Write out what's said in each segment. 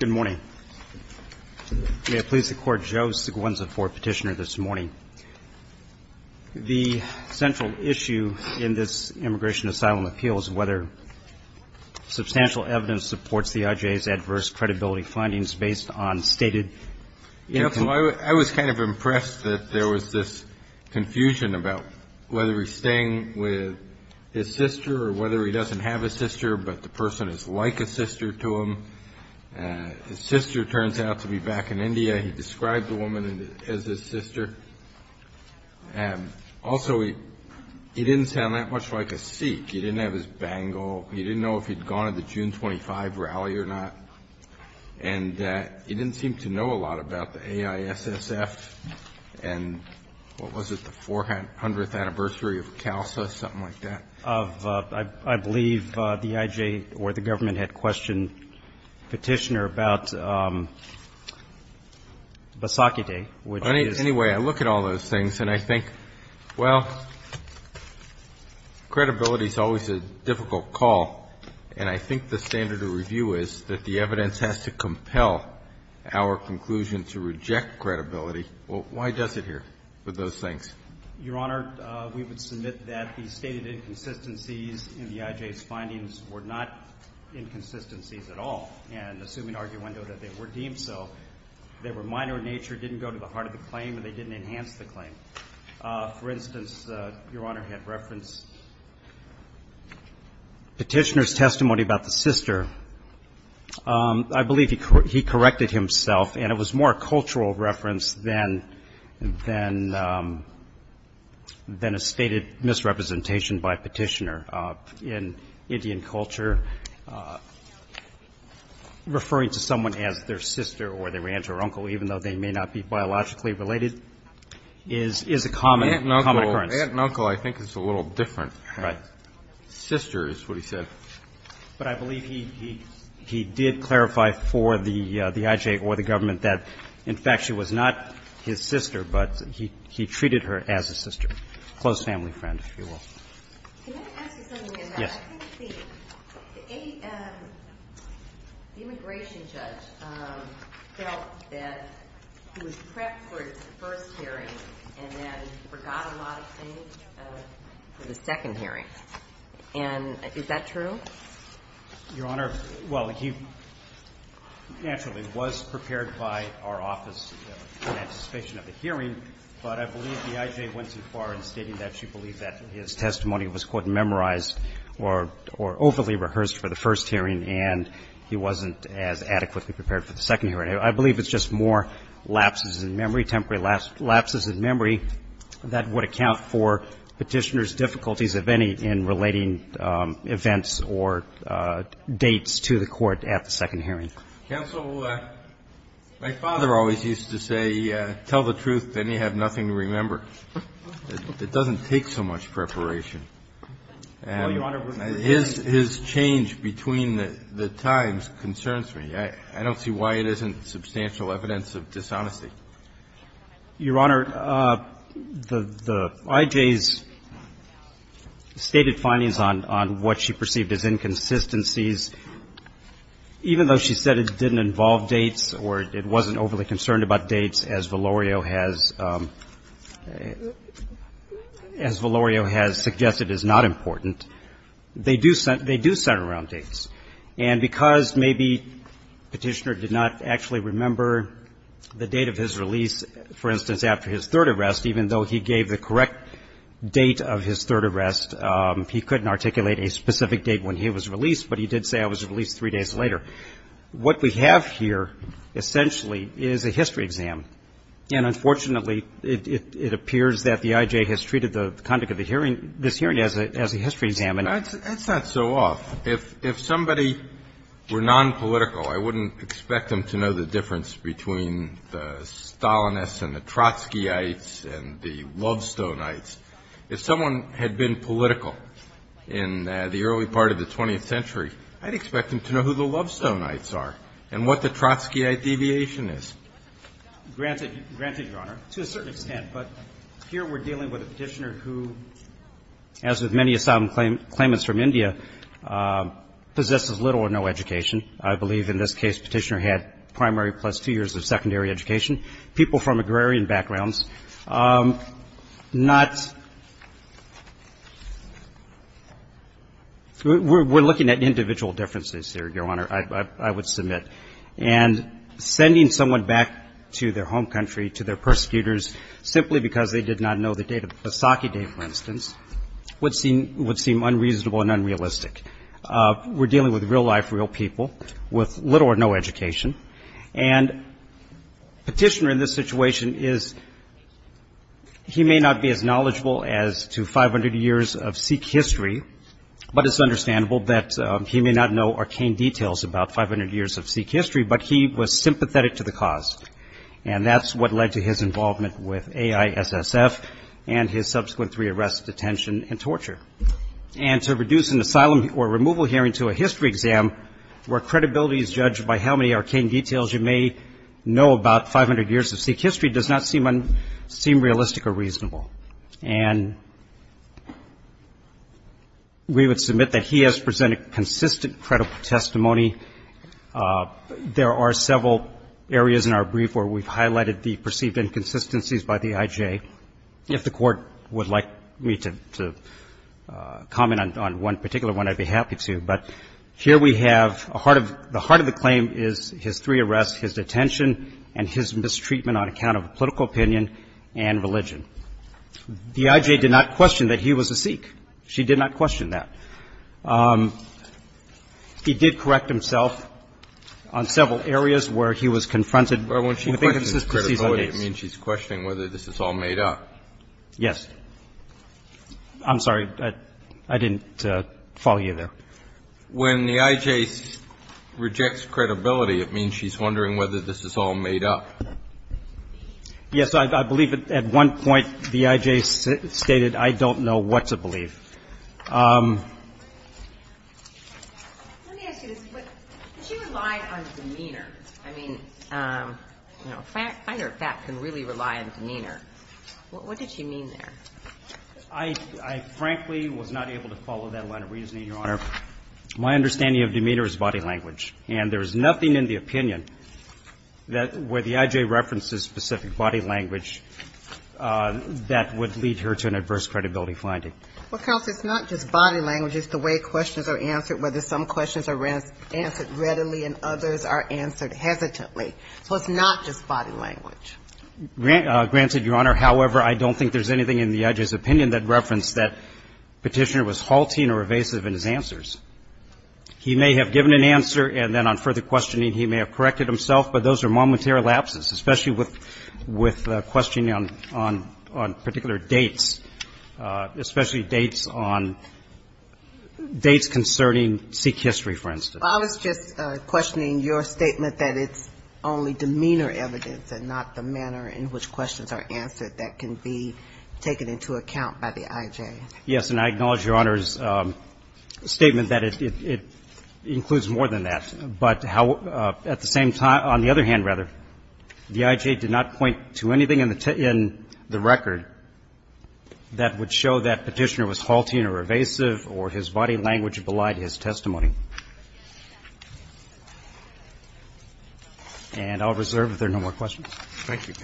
Good morning. May it please the Court, Joe Seguenza for Petitioner this morning. The central issue in this immigration asylum appeal is whether substantial evidence supports the IJA's adverse credibility findings based on stated I was kind of impressed that there was this confusion about whether he's staying with his sister or whether he doesn't have a sister but the person is like a sister to him. His sister turns out to be back in India. He described the woman as his sister. Also, he didn't sound that much like a Sikh. He didn't have his bangle. He didn't know if he'd gone to the June 25 rally or not. And he didn't seem to know a lot about the AISSF and what was it, the 400th anniversary of CALSA, something like that? Of, I believe, the IJA or the government had questioned Petitioner about Basakite, which is Anyway, I look at all those things and I think, well, credibility is always a difficult call. And I think the standard of review is that the evidence has to compel our conclusion to reject credibility. Well, why does it here with those things? Your Honor, we would submit that the stated inconsistencies in the IJA's findings were not inconsistencies at all. And assuming arguendo that they were deemed so, they were minor in nature, didn't go to the heart of the claim, and they didn't enhance the claim. For instance, Your Honor had referenced Petitioner's testimony about the sister. I believe he corrected himself and it was more a cultural reference than a stated misrepresentation by Petitioner. In Indian culture, referring to someone as their sister or their aunt or uncle, even though they may not be biologically related, is a common occurrence. Aunt and uncle, I think, is a little different. Right. Sister is what he said. But I believe he did clarify for the IJA or the government that, in fact, she was not his sister, but he treated her as a sister. Close family friend, if you will. Can I ask you something about that? The immigration judge felt that he was prepped for his first hearing and then forgot a lot of things for the second hearing. And is that true? Your Honor, well, he naturally was prepared by our office in anticipation of the hearing, but I believe the IJA went too far in stating that she believed that his testimony was, quote, memorized or overly rehearsed for the first hearing and he wasn't as adequately prepared for the second hearing. I believe it's just more lapses in memory, temporary lapses in memory, that would account for Petitioner's difficulties, if any, in relating events or dates to the court at the second hearing. Counsel, my father always used to say, tell the truth, then you have nothing to remember. It doesn't take so much preparation. And his change between the times concerns me. I don't see why it isn't substantial evidence of dishonesty. Your Honor, the IJA's stated findings on what she perceived as inconsistencies, even though she said it didn't involve dates or it wasn't overly concerned about dates, as Valorio has suggested is not important, they do center around dates. And because maybe Petitioner did not actually remember the date of his release, for instance, after his third arrest, even though he gave the correct date of his third arrest, he couldn't articulate a specific date when he was released, but he did say, I was released three days later. What we have here, essentially, is a history exam. And unfortunately, it appears that the IJA has treated the conduct of this hearing as a history exam. And that's not so off. If somebody were nonpolitical, I wouldn't expect them to know the difference between the Stalinists and the Trotskyites and the Lovestoneites. If someone had been political in the early part of the 20th century, I'd expect them to know who the Lovestoneites are and what the Trotskyite deviation is. Granted, Your Honor, to a certain extent, but here we're dealing with a Petitioner who, as with many of Stalin's claimants from India, possesses little or no education. I believe in this case Petitioner had primary plus two years of secondary education. People from agrarian backgrounds, not, we're looking at individual differences here, Your Honor, I would submit. And sending someone back to their home country, to their persecutors, simply because they did not know the date of the Saki Day, for instance, would seem unreasonable and unrealistic. We're dealing with real life, real people with little or no education. And Petitioner in this situation is, he may not be as knowledgeable as to 500 years of Sikh history, but it's understandable that he may not know arcane details about 500 years of Sikh history, but he was sympathetic to the cause. And that's what led to his involvement with AISSF and his subsequent three arrests, detention, and torture. And to reduce an asylum or removal hearing to a history exam, where credibility is judged by how many arcane details you may know about 500 years of Sikh history, does not seem realistic or reasonable. And we would submit that he has presented consistent, credible testimony. There are several areas in our brief where we've highlighted the perceived inconsistencies by the IJ. If the Court would like me to comment on one particular one, I'd be happy to. But here we have a heart of, the heart of the claim is his three arrests, his detention, and his mistreatment on account of political opinion and religion. The IJ did not question that he was a Sikh. She did not question that. He did correct himself on several areas where he was confronted with inconsistencies on dates. It means she's questioning whether this is all made up. Yes. I'm sorry. I didn't follow you there. When the IJ rejects credibility, it means she's wondering whether this is all made up. Yes, I believe at one point the IJ stated, I don't know what to believe. Let me ask you this. She relied on demeanor. I mean, you know, fact, fact or fact can really rely on demeanor. What did she mean there? I, I frankly was not able to follow that line of reasoning, Your Honor. My understanding of demeanor is body language. And there is nothing in the opinion that where the IJ references specific body language that would lead her to an adverse credibility finding. Well, counsel, it's not just body language. It's the way questions are answered, whether some questions are answered readily and others are answered hesitantly. So it's not just body language. Granted, Your Honor. However, I don't think there's anything in the IJ's opinion that referenced that Petitioner was halting or evasive in his answers. He may have given an answer, and then on further questioning, he may have corrected himself. But those are momentary lapses, especially with, with questioning on, on, on particular dates, especially dates on dates concerning Sikh history, for instance. Well, I was just questioning your statement that it's only demeanor evidence and not the manner in which questions are answered that can be taken into account by the IJ. Yes. And I acknowledge Your Honor's statement that it includes more than that. But at the same time, on the other hand, rather, the IJ did not point to anything in the record that would show that Petitioner was halting or evasive or his body language belied his testimony. And I'll reserve if there are no more questions. Thank you.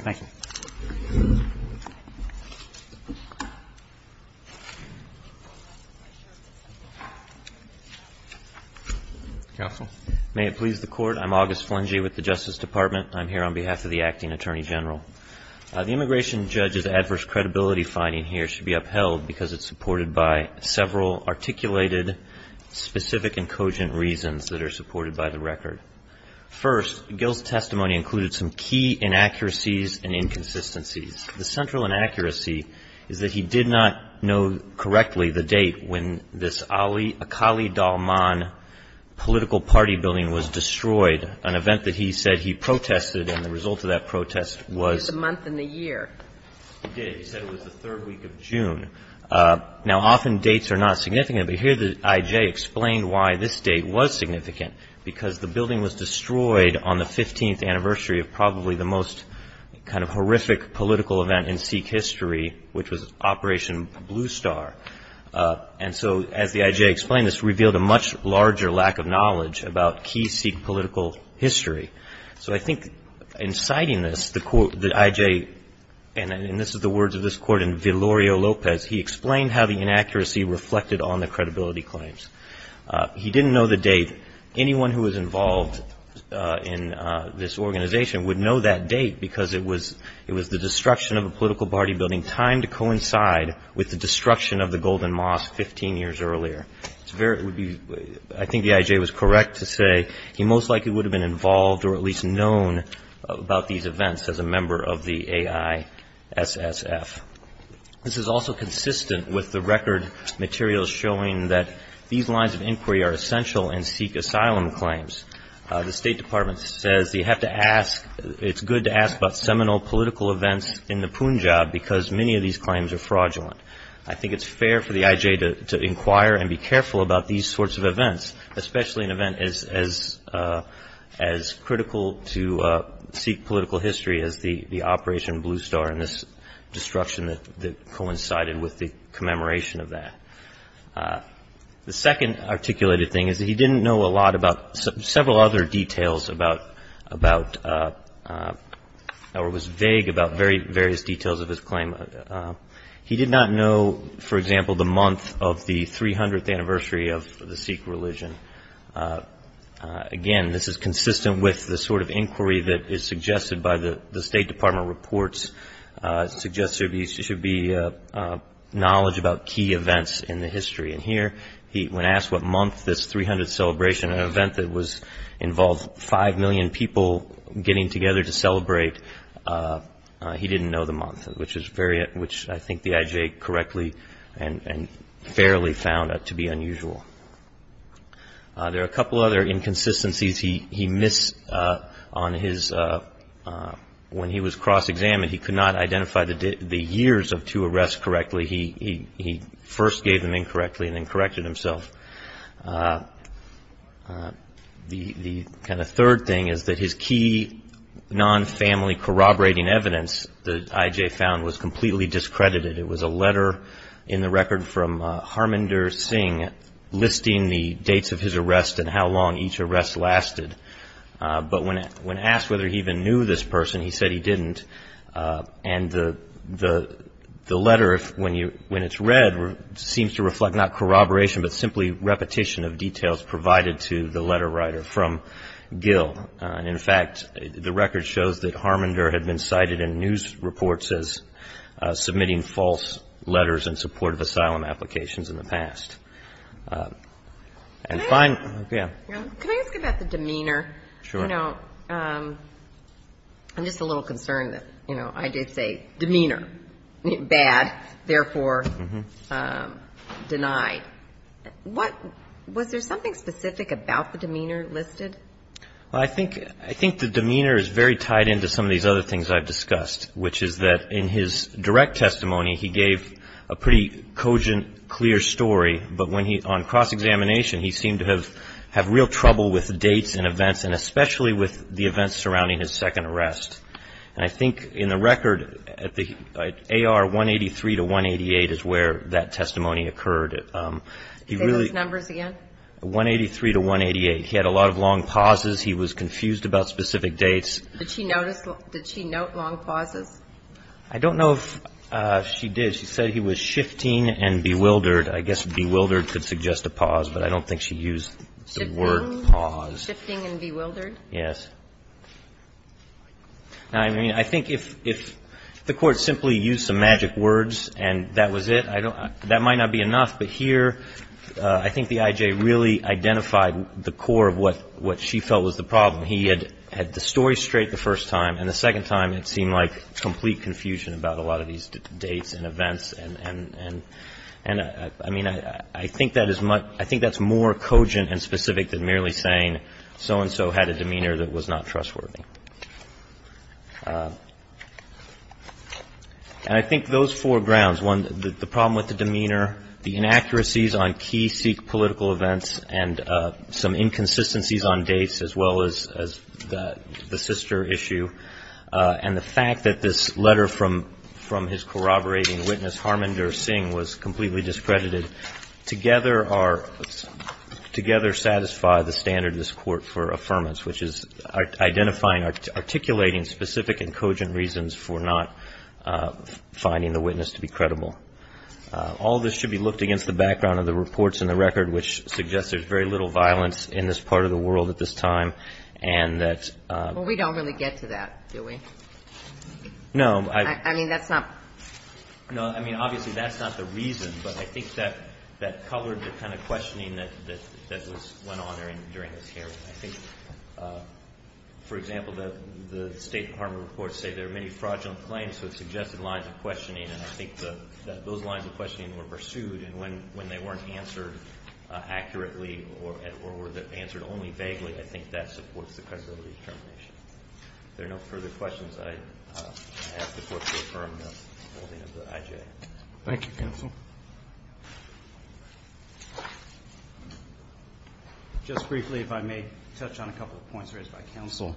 Counsel. May it please the Court. I'm August Flangey with the Justice Department. I'm here on behalf of the Acting Attorney General. The immigration judge's adverse credibility finding here should be upheld because it's supported by several articulated, specific, and cogent reasons that are supported by the record. First, Gill's testimony included some key inaccuracies and inconsistencies. The central inaccuracy is that he did not know correctly the date when this Ali, Aqali Dalman political party building was destroyed, an event that he said he protested, and the result of that protest was the month and the year. He did. He said it was the third week of June. Now, often dates are not significant, but here the IJ explained why this date was significant, because the building was destroyed on the 15th anniversary of probably the most kind of horrific political event in Sikh history, which was Operation Blue Star. And so, as the IJ explained, this revealed a much larger lack of knowledge about key Sikh political history. So, I think, in citing this, the IJ, and this is the words of this court in Villorio Lopez, he explained how the inaccuracy reflected on the credibility claims. He didn't know the date. Anyone who was involved in this organization would know that date, because it was the destruction of a political party building timed to coincide with the destruction of the Golden Mosque 15 years earlier. It's very, I think the IJ was correct to say he most likely would have been involved or at least known about these events as a member of the AISSF. This is also consistent with the record materials showing that these lines of inquiry are essential in Sikh asylum claims. The State Department says you have to ask, it's good to ask about seminal political events in the Punjab, because many of these claims are fraudulent. I think it's fair for the IJ to inquire and be careful about these sorts of events, especially an event as critical to Sikh political history as the Operation Blue Star and this destruction that coincided with the commemoration of that. The second articulated thing is that he didn't know a lot about several other details about, or was vague about various details of his claim. He did not know, for example, the month of the 300th anniversary of the Sikh religion. Again, this is consistent with the sort of inquiry that is suggested by the State Department reports, suggests there should be knowledge about key events in the history. And here, when asked what month this 300th celebration, an event that involved five million people getting together to celebrate, he didn't know the month, which is very, which I think the IJ correctly and fairly found to be unusual. There are a couple other inconsistencies he missed on his, when he was cross examined, he could not identify the years of two arrests correctly. He first gave them incorrectly and then corrected himself. The kind of third thing is that his key non-family corroborating evidence that IJ found was completely discredited. It was a letter in the record from Harmandir Singh listing the dates of his arrest and how long each arrest lasted. But when asked whether he even knew this person, he said he didn't. And the letter, when it's read, seems to reflect not corroboration, but simply repetition of details provided to the letter writer from Gill. And in fact, the record shows that Harmandir had been cited in news reports as submitting false letters in support of asylum applications in the past. And fine, yeah. Can I ask about the demeanor? Sure. You know, I'm just a little concerned that, you know, I did say demeanor, bad, therefore denied. What was there something specific about the demeanor listed? Well, I think I think the demeanor is very tied into some of these other things I've discussed, which is that in his direct testimony, he gave a pretty cogent, clear story. But when he on cross-examination, he seemed to have have real trouble with dates and events and especially with the events surrounding his second arrest. And I think in the record at the A.R. 183 to 188 is where that testimony occurred. He really numbers again, 183 to 188. He had a lot of long pauses. He was confused about specific dates. Did she notice? Did she note long pauses? I don't know if she did. She said he was shifting and bewildered. I guess bewildered could suggest a pause, but I don't think she used the word pause. Shifting and bewildered? Yes. I mean, I think if if the Court simply used some magic words and that was it, I don't that might not be enough. But here I think the I.J. really identified the core of what what she felt was the problem. He had had the story straight the first time and the second time it seemed like complete confusion about a lot of these dates and events. And and and I mean, I think that is much I think that's more cogent and specific than merely saying so and so had a demeanor that was not trustworthy. And I think those four grounds, one, the problem with the demeanor, the inaccuracies on key Sikh political events and some inconsistencies on dates, as well as the sister issue. And the fact that this letter from from his corroborating witness, Harmander Singh, was completely discredited together are together satisfy the standard of this court for affirmance, which is identifying, articulating specific and cogent reasons for not finding the witness to be credible. All this should be looked against the background of the reports in the record, which suggests there's very little violence in this part of the world at this time and that we don't really get to that. Do we know? I mean, that's not no. I mean, obviously, that's not the reason, but I think that that covered the kind of questioning that that that was went on during this hearing. I think, for example, that the State Department reports say there are many fraudulent claims. So it suggested lines of questioning. And I think that those lines of questioning were pursued. And when when they weren't answered accurately or were answered only vaguely, I think that supports the credibility determination. There are no further questions. I ask the court to affirm the holding of the I.J. Thank you, counsel. Just briefly, if I may touch on a couple of points raised by counsel,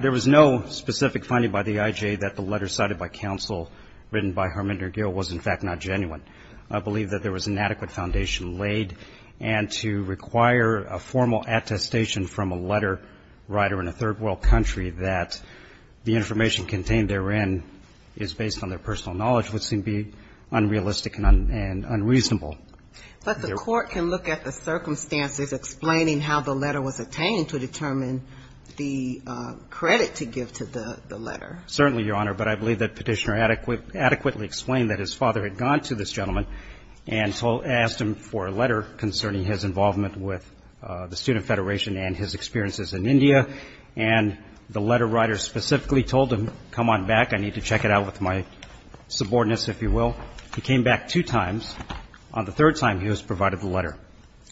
there was no specific finding by the I.J. that the letter cited by counsel written by Harmander Gill was, in fact, not genuine. I believe that there was an adequate foundation laid and to require a formal attestation from a letter writer in a third world country that the information contained therein is based on their personal knowledge would seem to be unrealistic and unreasonable. But the court can look at the circumstances explaining how the letter was obtained to determine the credit to give to the letter. Certainly, Your Honor, but I believe that petitioner adequately adequately explained that his father had gone to this gentleman and asked him for a letter concerning his involvement with the Student Federation and his experiences in India. And the letter writer specifically told him, come on back. I need to check it out with my subordinates, if you will. He came back two times. On the third time, he was provided the letter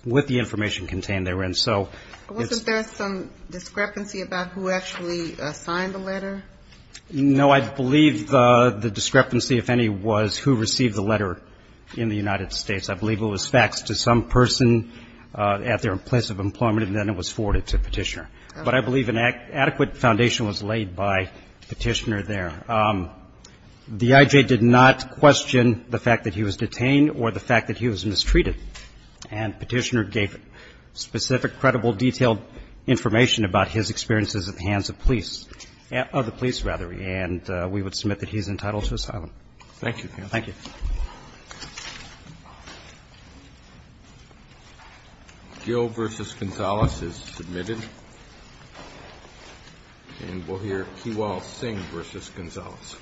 with the information contained therein. So there's some discrepancy about who actually signed the letter. No, I believe the discrepancy, if any, was who received the letter in the United States. I believe it was faxed to some person at their place of employment, and then it was forwarded to petitioner. But I believe an adequate foundation was laid by petitioner there. The I.J. did not question the fact that he was detained or the fact that he was mistreated. And petitioner gave specific, credible, detailed information about his experiences at the hands of police, of the police, rather. And we would submit that he's entitled to asylum. Thank you. Thank you. Gil v. Gonzales is submitted. And we'll hear Kiwal Singh v. Gonzales. Thank you.